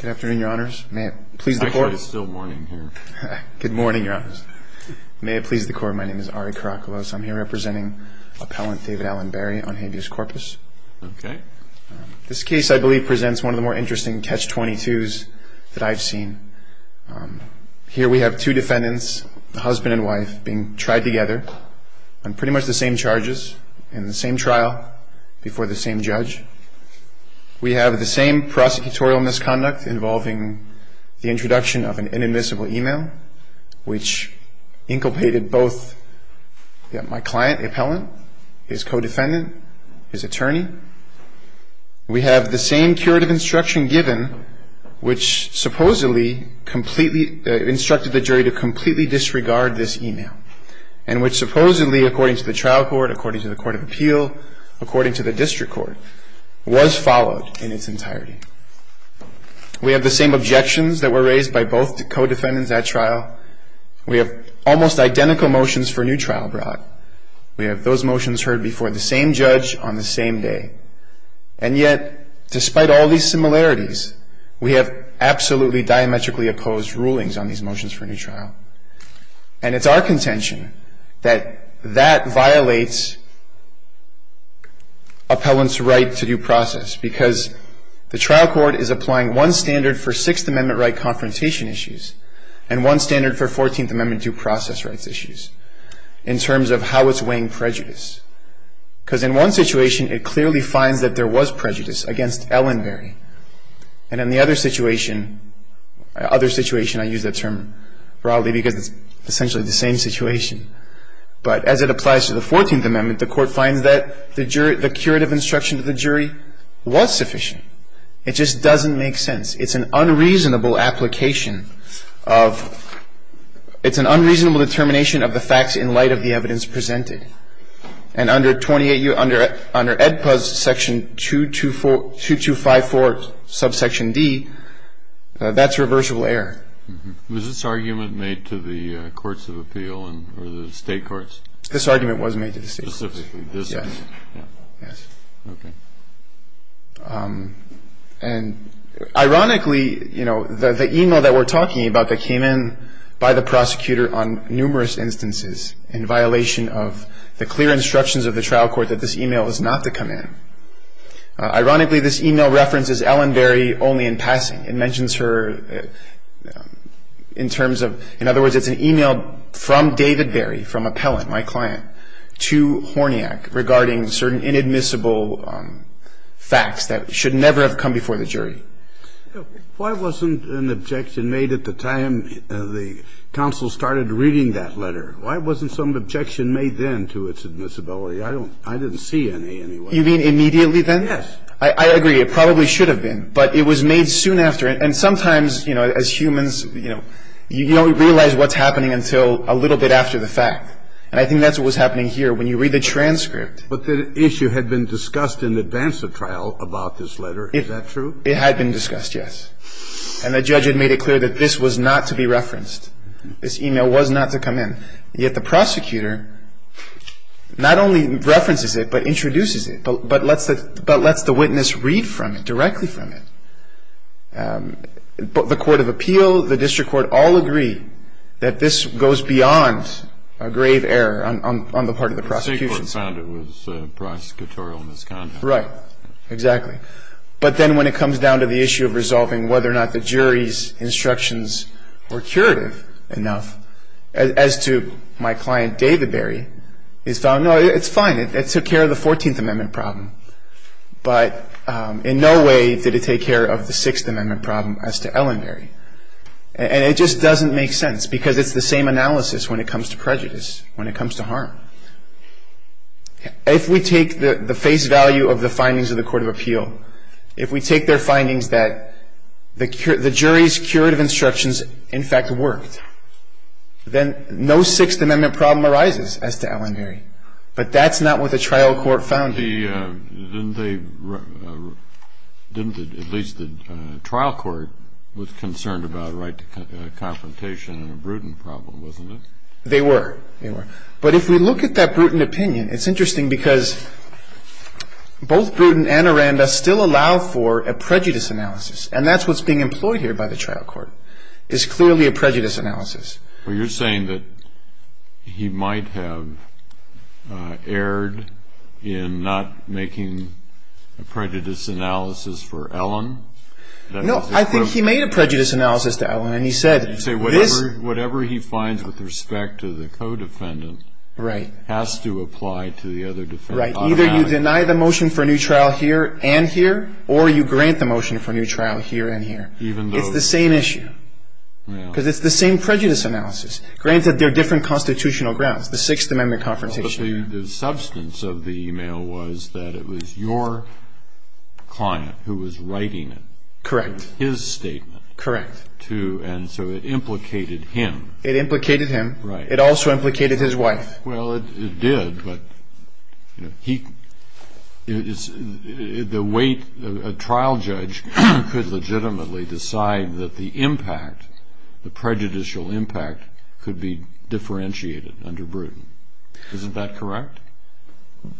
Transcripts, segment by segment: Good afternoon, your honors. May it please the court. It's still morning here. Good morning, your honors. May it please the court, my name is Ari Karakalos. I'm here representing appellant David Allen Berry on habeas corpus. Okay. This case, I believe, presents one of the more interesting Catch-22s that I've seen. Here we have two defendants, husband and wife, being tried together on pretty much the same charges in the same trial before the same judge. We have the same prosecutorial misconduct involving the introduction of an inadmissible e-mail, which inculpated both my client, appellant, his co-defendant, his attorney. We have the same curative instruction given, which supposedly instructed the jury to completely disregard this e-mail, and which supposedly, according to the trial court, according to the court of appeal, according to the district court, was followed in its entirety. We have the same objections that were raised by both co-defendants at trial. We have almost identical motions for a new trial brought. We have those motions heard before the same judge on the same day. And yet, despite all these similarities, we have absolutely diametrically opposed rulings on these motions for a new trial. And it's our contention that that violates appellant's right to due process, because the trial court is applying one standard for Sixth Amendment right confrontation issues and one standard for Fourteenth Amendment due process rights issues in terms of how it's weighing prejudice. Because in one situation, it clearly finds that there was prejudice against Ellenberry. And in the other situation, other situation, I use that term broadly because it's essentially the same situation. But as it applies to the Fourteenth Amendment, the court finds that the jury, the curative instruction to the jury was sufficient. It just doesn't make sense. It's an unreasonable application of, it's an unreasonable determination of the facts in light of the evidence presented. And under 28U, under EDPA's section 2254 subsection D, that's reversible error. Was this argument made to the courts of appeal or the state courts? This argument was made to the state courts. Specifically this argument. Yes. Okay. And ironically, you know, the email that we're talking about that came in by the prosecutor on numerous instances in violation of the clear instructions of the trial court that this email was not to come in. Ironically, this email references Ellenberry only in passing. It mentions her in terms of, in other words, it's an email from David Berry, from appellant, my client, to Horniak regarding certain inadmissible facts that should never have come before the jury. Why wasn't an objection made at the time the counsel started reading that letter? Why wasn't some objection made then to its admissibility? I don't, I didn't see any anyway. You mean immediately then? Yes. I agree. It probably should have been. But it was made soon after. And sometimes, you know, as humans, you know, you don't realize what's happening until a little bit after the fact. And I think that's what was happening here when you read the transcript. But the issue had been discussed in advance of trial about this letter. Is that true? It had been discussed, yes. And the judge had made it clear that this was not to be referenced. This email was not to come in. Yet the prosecutor not only references it, but introduces it, but lets the witness read from it, directly from it. The court of appeal, the district court, all agree that this goes beyond a grave error on the part of the prosecution. The state court found it was prosecutorial misconduct. Right. Exactly. But then when it comes down to the issue of resolving whether or not the jury's instructions were curative enough, as to my client David Barry, he's found, no, it's fine. It took care of the 14th Amendment problem. But in no way did it take care of the 6th Amendment problem as to Ellenberry. And it just doesn't make sense because it's the same analysis when it comes to prejudice, when it comes to harm. If we take the face value of the findings of the court of appeal, if we take their findings that the jury's curative instructions, in fact, worked, then no 6th Amendment problem arises as to Ellenberry. But that's not what the trial court found. Didn't they, at least the trial court, was concerned about a right to confrontation and a prudent problem, wasn't it? They were. They were. But if we look at that prudent opinion, it's interesting because both prudent and aranda still allow for a prejudice analysis, and that's what's being employed here by the trial court, is clearly a prejudice analysis. Well, you're saying that he might have erred in not making a prejudice analysis for Ellen? No, I think he made a prejudice analysis to Ellen, and he said this. Whatever he finds with respect to the co-defendant has to apply to the other defendant automatically. Right. Either you deny the motion for a new trial here and here, or you grant the motion for a new trial here and here. It's the same issue because it's the same prejudice analysis. Granted, they're different constitutional grounds, the 6th Amendment confrontation. Well, but the substance of the email was that it was your client who was writing it. Correct. His statement. Correct. It was his wife, too, and so it implicated him. It implicated him. Right. It also implicated his wife. Well, it did, but the weight of a trial judge could legitimately decide that the impact, the prejudicial impact, could be differentiated under Bruton. Isn't that correct?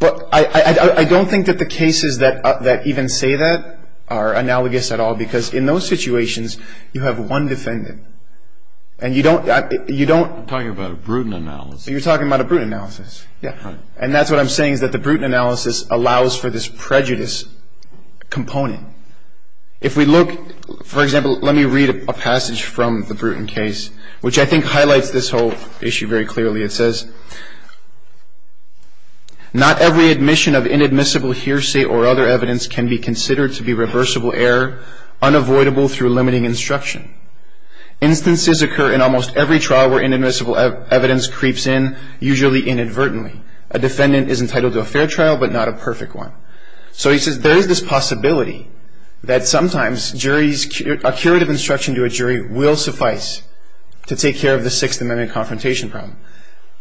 I don't think that the cases that even say that are analogous at all because in those situations you have one defendant and you don't. I'm talking about a Bruton analysis. You're talking about a Bruton analysis. Yeah. And that's what I'm saying is that the Bruton analysis allows for this prejudice component. If we look, for example, let me read a passage from the Bruton case, which I think highlights this whole issue very clearly. It says, Not every admission of inadmissible hearsay or other evidence can be considered to be reversible error, unavoidable through limiting instruction. Instances occur in almost every trial where inadmissible evidence creeps in, usually inadvertently. A defendant is entitled to a fair trial but not a perfect one. So he says there is this possibility that sometimes a curative instruction to a jury will suffice to take care of the Sixth Amendment confrontation problem.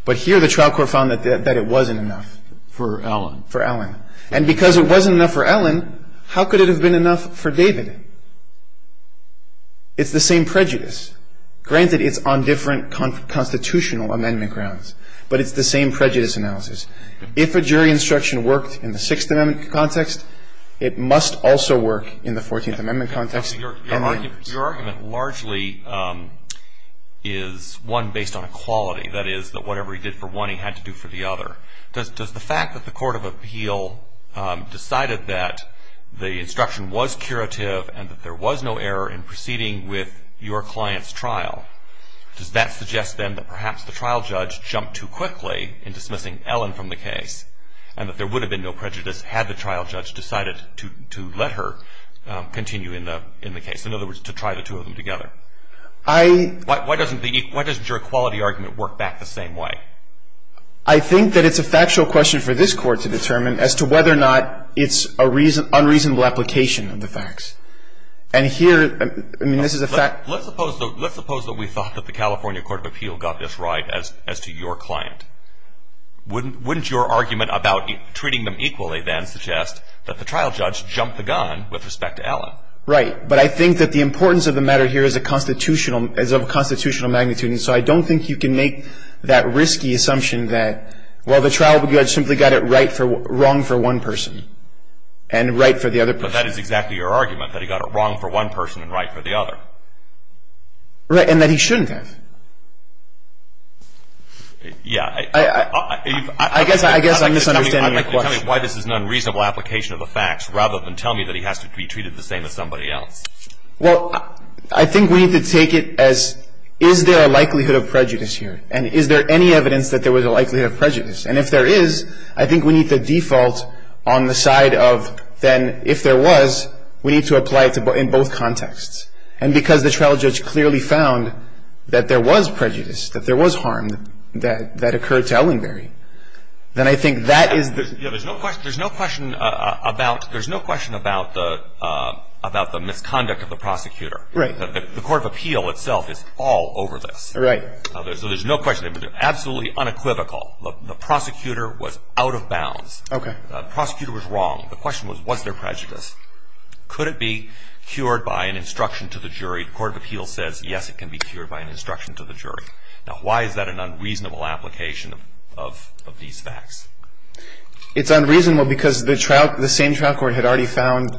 But here the trial court found that it wasn't enough for Allen. For Allen. And because it wasn't enough for Allen, how could it have been enough for David? It's the same prejudice. Granted, it's on different constitutional amendment grounds, but it's the same prejudice analysis. If a jury instruction worked in the Sixth Amendment context, it must also work in the Fourteenth Amendment context. Your argument largely is one based on equality. That is, that whatever he did for one he had to do for the other. Does the fact that the court of appeal decided that the instruction was curative and that there was no error in proceeding with your client's trial, does that suggest then that perhaps the trial judge jumped too quickly in dismissing Allen from the case and that there would have been no prejudice had the trial judge decided to let her continue in the case? In other words, to try the two of them together. Why doesn't your equality argument work back the same way? I think that it's a factual question for this Court to determine as to whether or not it's an unreasonable application of the facts. And here, I mean, this is a fact. Let's suppose that we thought that the California court of appeal got this right as to your client. Wouldn't your argument about treating them equally then suggest that the trial judge jumped the gun with respect to Allen? Right. But I think that the importance of the matter here is of constitutional magnitude. And so I don't think you can make that risky assumption that, well, the trial judge simply got it wrong for one person and right for the other person. But that is exactly your argument, that he got it wrong for one person and right for the other. Right. And that he shouldn't have. Yeah. I guess I'm misunderstanding your question. I'd like to tell me why this is an unreasonable application of the facts rather than tell me that he has to be treated the same as somebody else. Well, I think we need to take it as is there a likelihood of prejudice here? And is there any evidence that there was a likelihood of prejudice? And if there is, I think we need the default on the side of then if there was, we need to apply it in both contexts. And because the trial judge clearly found that there was prejudice, that there was harm that occurred to Ellenberry, then I think that is the... There's no question about the misconduct of the prosecutor. Right. The Court of Appeal itself is all over this. Right. So there's no question. Absolutely unequivocal, the prosecutor was out of bounds. Okay. The prosecutor was wrong. The question was, was there prejudice? Could it be cured by an instruction to the jury? The Court of Appeal says, yes, it can be cured by an instruction to the jury. Now, why is that an unreasonable application of these facts? It's unreasonable because the same trial court had already found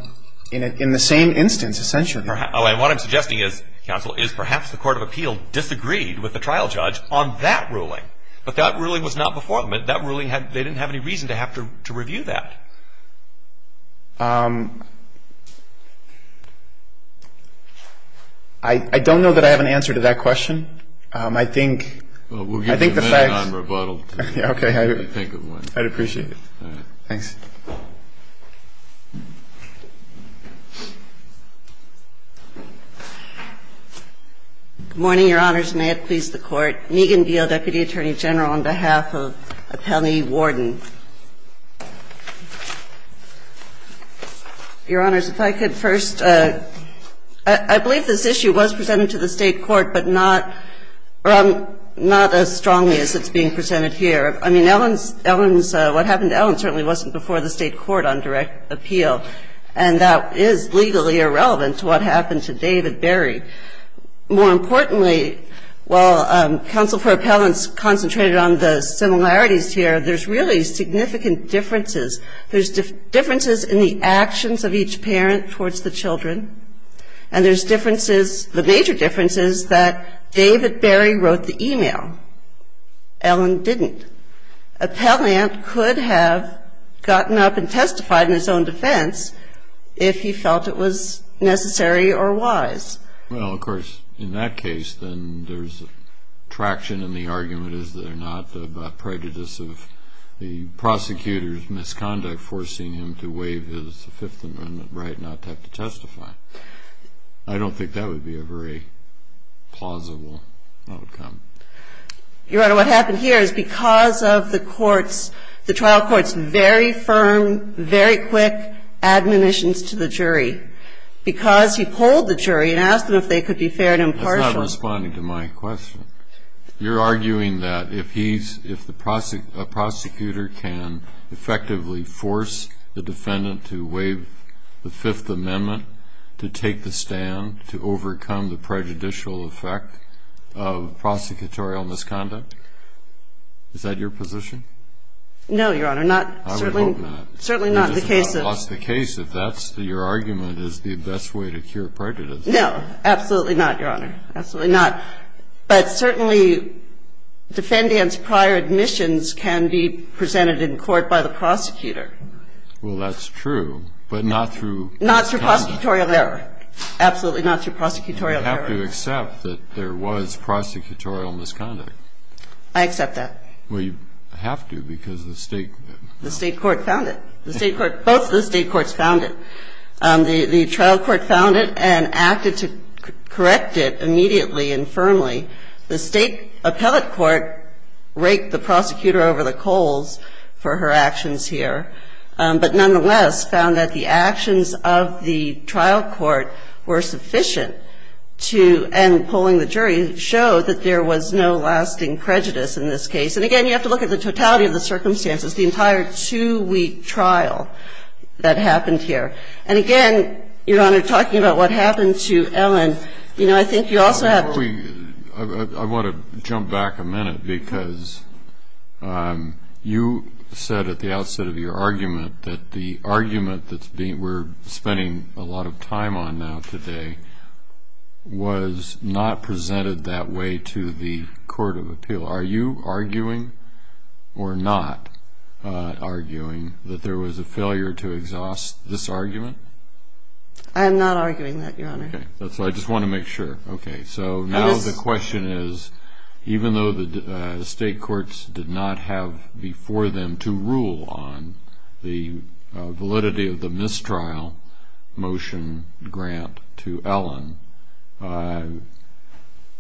in the same instance, essentially. Oh, and what I'm suggesting is, Counsel, is perhaps the Court of Appeal disagreed with the trial judge on that ruling. But that ruling was not before them. That ruling, they didn't have any reason to have to review that. I don't know that I have an answer to that question. I think... Well, we'll give you a minute on rebuttal. Okay. Whatever you think of when. I'd appreciate it. All right. Thanks. Good morning, Your Honors. May it please the Court. Megan Beale, Deputy Attorney General, on behalf of Appellee Warden. Your Honors, if I could first... I believe this issue was presented to the State court, but not as strongly as it's being presented here. I mean, Ellen's, what happened to Ellen certainly wasn't before the State court on direct appeal. And that is legally irrelevant to what happened to David Berry. More importantly, while counsel for appellants concentrated on the similarities here, there's really significant differences. There's differences in the actions of each parent towards the children. And there's differences, the major differences, that David Berry wrote the e-mail. Ellen didn't. Appellant could have gotten up and testified in his own defense if he felt it was necessary or wise. Well, of course, in that case, then there's a traction in the argument is that David Berry did not have prejudice of the prosecutor's misconduct forcing him to waive his Fifth Amendment right not to have to testify. I don't think that would be a very plausible outcome. Your Honor, what happened here is because of the trial court's very firm, very quick admonitions to the jury, because he polled the jury and asked them if they could be fair and impartial. That's not responding to my question. You're arguing that if a prosecutor can effectively force the defendant to waive the Fifth Amendment, to take the stand, to overcome the prejudicial effect of prosecutorial misconduct? Is that your position? No, Your Honor, not certainly. I would hope not. You just lost the case if that's your argument is the best way to cure prejudice. No, absolutely not, Your Honor. Absolutely not. But certainly, defendants' prior admissions can be presented in court by the prosecutor. Well, that's true, but not through misconduct. Not through prosecutorial error. Absolutely not through prosecutorial error. You have to accept that there was prosecutorial misconduct. I accept that. Well, you have to because the state court found it. Both the state courts found it. The trial court found it and acted to correct it immediately and firmly. The state appellate court raked the prosecutor over the coals for her actions here, but nonetheless found that the actions of the trial court were sufficient to end polling the jury, showed that there was no lasting prejudice in this case. And, again, you have to look at the totality of the circumstances, the entire two-week trial that happened here. And, again, Your Honor, talking about what happened to Ellen, I think you also have to I want to jump back a minute because you said at the outset of your argument that the argument that we're spending a lot of time on now today was not presented that way to the court of appeal. Are you arguing or not arguing that there was a failure to exhaust this argument? I am not arguing that, Your Honor. Okay. So I just want to make sure. Okay. So now the question is, even though the state courts did not have before them to rule on the validity of the mistrial motion grant to Ellen,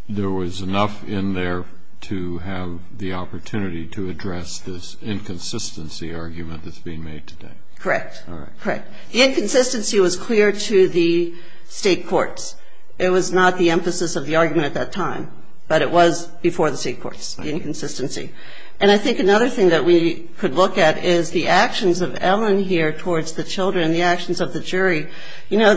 there was enough in there to have the opportunity to address this inconsistency argument that's being made today? Correct. All right. Correct. The inconsistency was clear to the state courts. It was not the emphasis of the argument at that time, but it was before the state courts, the inconsistency. And I think another thing that we could look at is the actions of Ellen here towards the children, the actions of the jury. You know,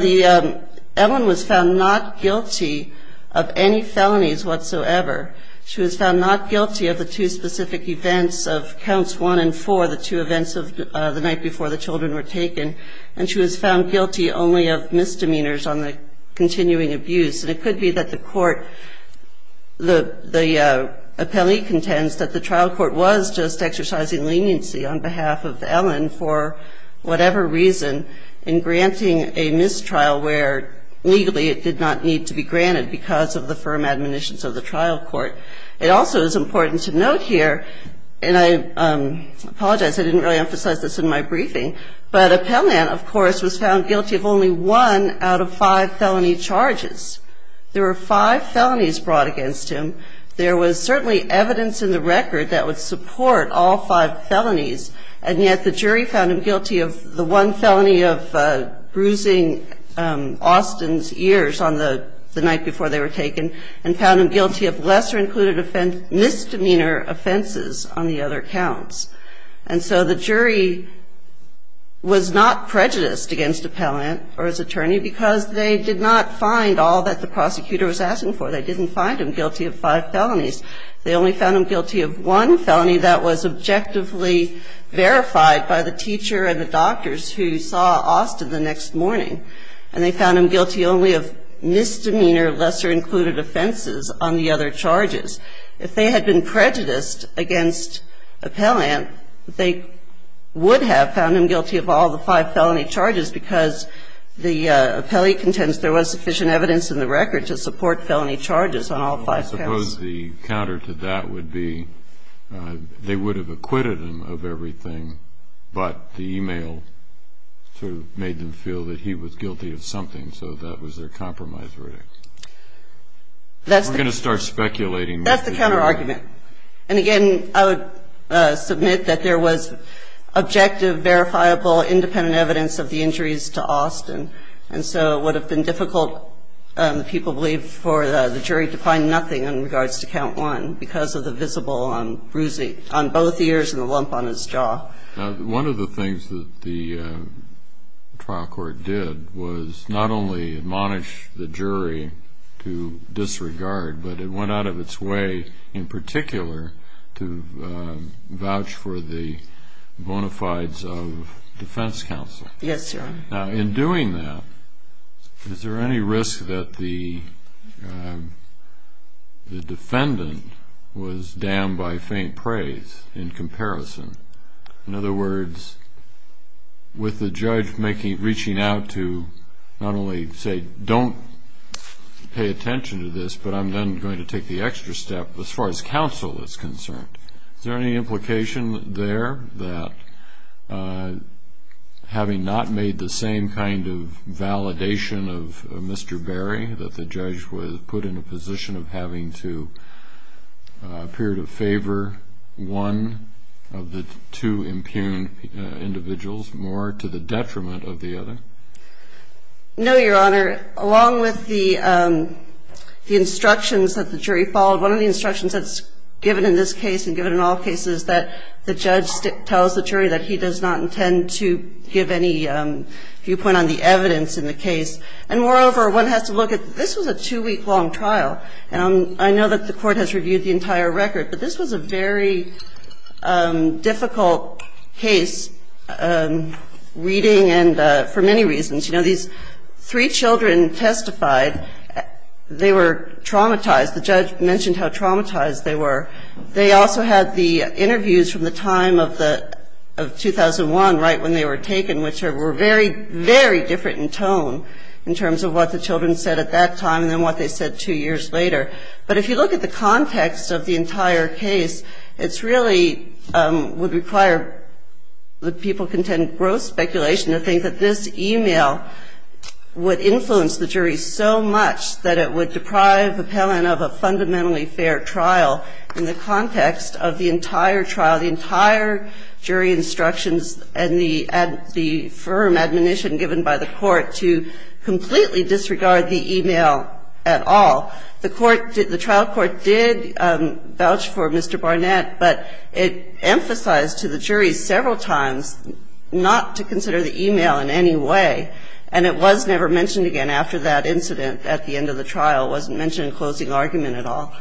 Ellen was found not guilty of any felonies whatsoever. She was found not guilty of the two specific events of counts one and four, the two events of the night before the children were taken. And she was found guilty only of misdemeanors on the continuing abuse. And it could be that the court, the appellee contends that the trial court was just where legally it did not need to be granted because of the firm admonitions of the trial court. It also is important to note here, and I apologize, I didn't really emphasize this in my briefing, but Appellant, of course, was found guilty of only one out of five felony charges. There were five felonies brought against him. There was certainly evidence in the record that would support all five felonies, and yet the jury found him guilty of the one felony of bruising Austin's ears on the night before they were taken and found him guilty of lesser-included misdemeanor offenses on the other counts. And so the jury was not prejudiced against Appellant or his attorney because they did not find all that the prosecutor was asking for. They didn't find him guilty of five felonies. They only found him guilty of one felony that was objectively verified by the teacher and the doctors who saw Austin the next morning, and they found him guilty only of misdemeanor lesser-included offenses on the other charges. If they had been prejudiced against Appellant, they would have found him guilty of all the five felony charges because the appellee contends there was sufficient evidence in the record to support felony charges on all five counts. I suppose the counter to that would be they would have acquitted him of everything, but the e-mail sort of made them feel that he was guilty of something, so that was their compromise verdict. We're going to start speculating. That's the counterargument. And again, I would submit that there was objective, verifiable, independent evidence of the injuries to Austin, and so it would have been difficult, people believe, for the jury to find nothing in regards to count one because of the visible bruising on both ears and the lump on his jaw. One of the things that the trial court did was not only admonish the jury to disregard, but it went out of its way in particular to vouch for the bona fides of defense counsel. Now, in doing that, is there any risk that the defendant was damned by faint praise in comparison? In other words, with the judge reaching out to not only say, don't pay attention to this, but I'm then going to take the extra step as far as counsel is concerned, is there any risk that the defendant was damned by faint praise in comparison? I mean, is there any risk that the defendant was damned by faint praise in comparison? No, Your Honor. Along with the instructions that the jury followed, one of the instructions that's given in this case and given in all cases is that the judge tells the jury that he does not intend to give any viewpoint on the evidence in the case. And moreover, one has to look at this was a two-week-long trial, and I know that the court has reviewed the entire record, but this was a very difficult case, reading and for many reasons. You know, these three children testified. They were traumatized. The judge mentioned how traumatized they were. They also had the interviews from the time of 2001, right when they were taken, which were very, very different in tone in terms of what the children said at that time and then what they said two years later. But if you look at the context of the entire case, it really would require that people contend gross speculation to think that this email would influence the jury so much that it would deprive an appellant of a fundamentally fair trial in the context of the entire trial, the entire jury instructions and the firm admonition given by the court to completely disregard the email at all. The trial court did vouch for Mr. Barnett, but it emphasized to the jury several times not to consider the email in any way, and it was never mentioned again after that incident at the end of the trial. It wasn't mentioned in closing argument at all.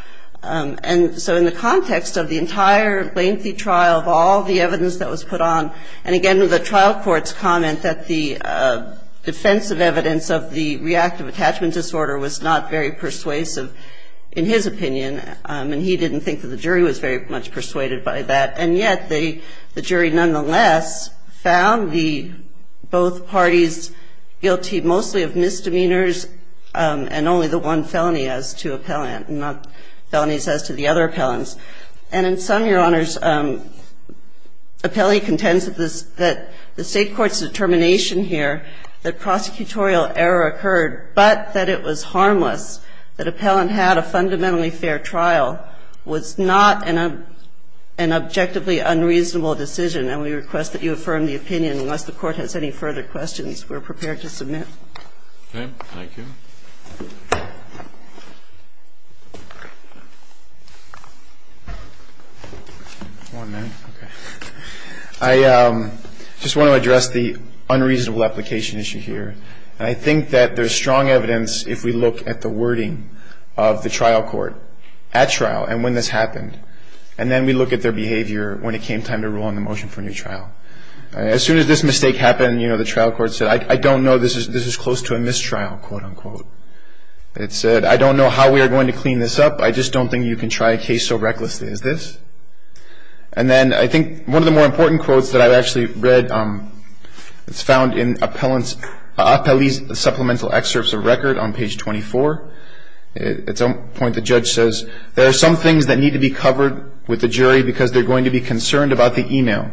And so in the context of the entire lengthy trial of all the evidence that was put on, and again the trial court's comment that the defensive evidence of the reactive attachment disorder was not very persuasive in his opinion, and he didn't think that the jury was very much persuaded by that. And yet the jury nonetheless found both parties guilty mostly of misdemeanors and only the one felony as to appellant and not felonies as to the other appellants. And in sum, Your Honors, appellee contends that the State court's determination here that prosecutorial error occurred but that it was harmless, that appellant had a fundamentally fair trial, was not an objectively unreasonable decision, and we request that you affirm the opinion unless the Court has any further questions on the case we're prepared to submit. Okay. Thank you. I just want to address the unreasonable application issue here. And I think that there's strong evidence if we look at the wording of the trial court at trial and when this happened, and then we look at their behavior when it came time to rule on the motion for a new trial. As soon as this mistake happened, you know, the trial court said, I don't know this is close to a mistrial, quote, unquote. It said, I don't know how we are going to clean this up. I just don't think you can try a case so recklessly. Is this? And then I think one of the more important quotes that I've actually read, it's found in appellee's supplemental excerpts of record on page 24. At some point the judge says, there are some things that need to be covered with the jury because they're going to be concerned about the email,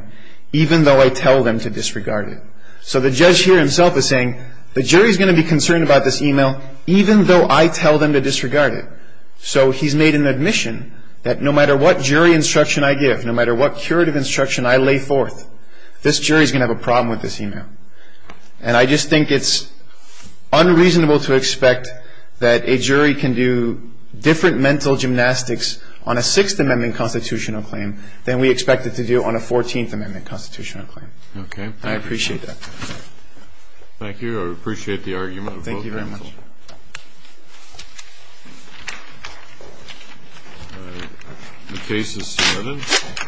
even though I tell them to disregard it. So the judge here himself is saying, the jury is going to be concerned about this email, even though I tell them to disregard it. So he's made an admission that no matter what jury instruction I give, no matter what curative instruction I lay forth, this jury is going to have a problem with this email. And I just think it's unreasonable to expect that a jury can do different mental gymnastics on a Sixth Amendment constitutional claim than we expect it to do on a Fourteenth Amendment constitutional claim. Okay. I appreciate that. Thank you. I appreciate the argument. Thank you very much. The case is submitted.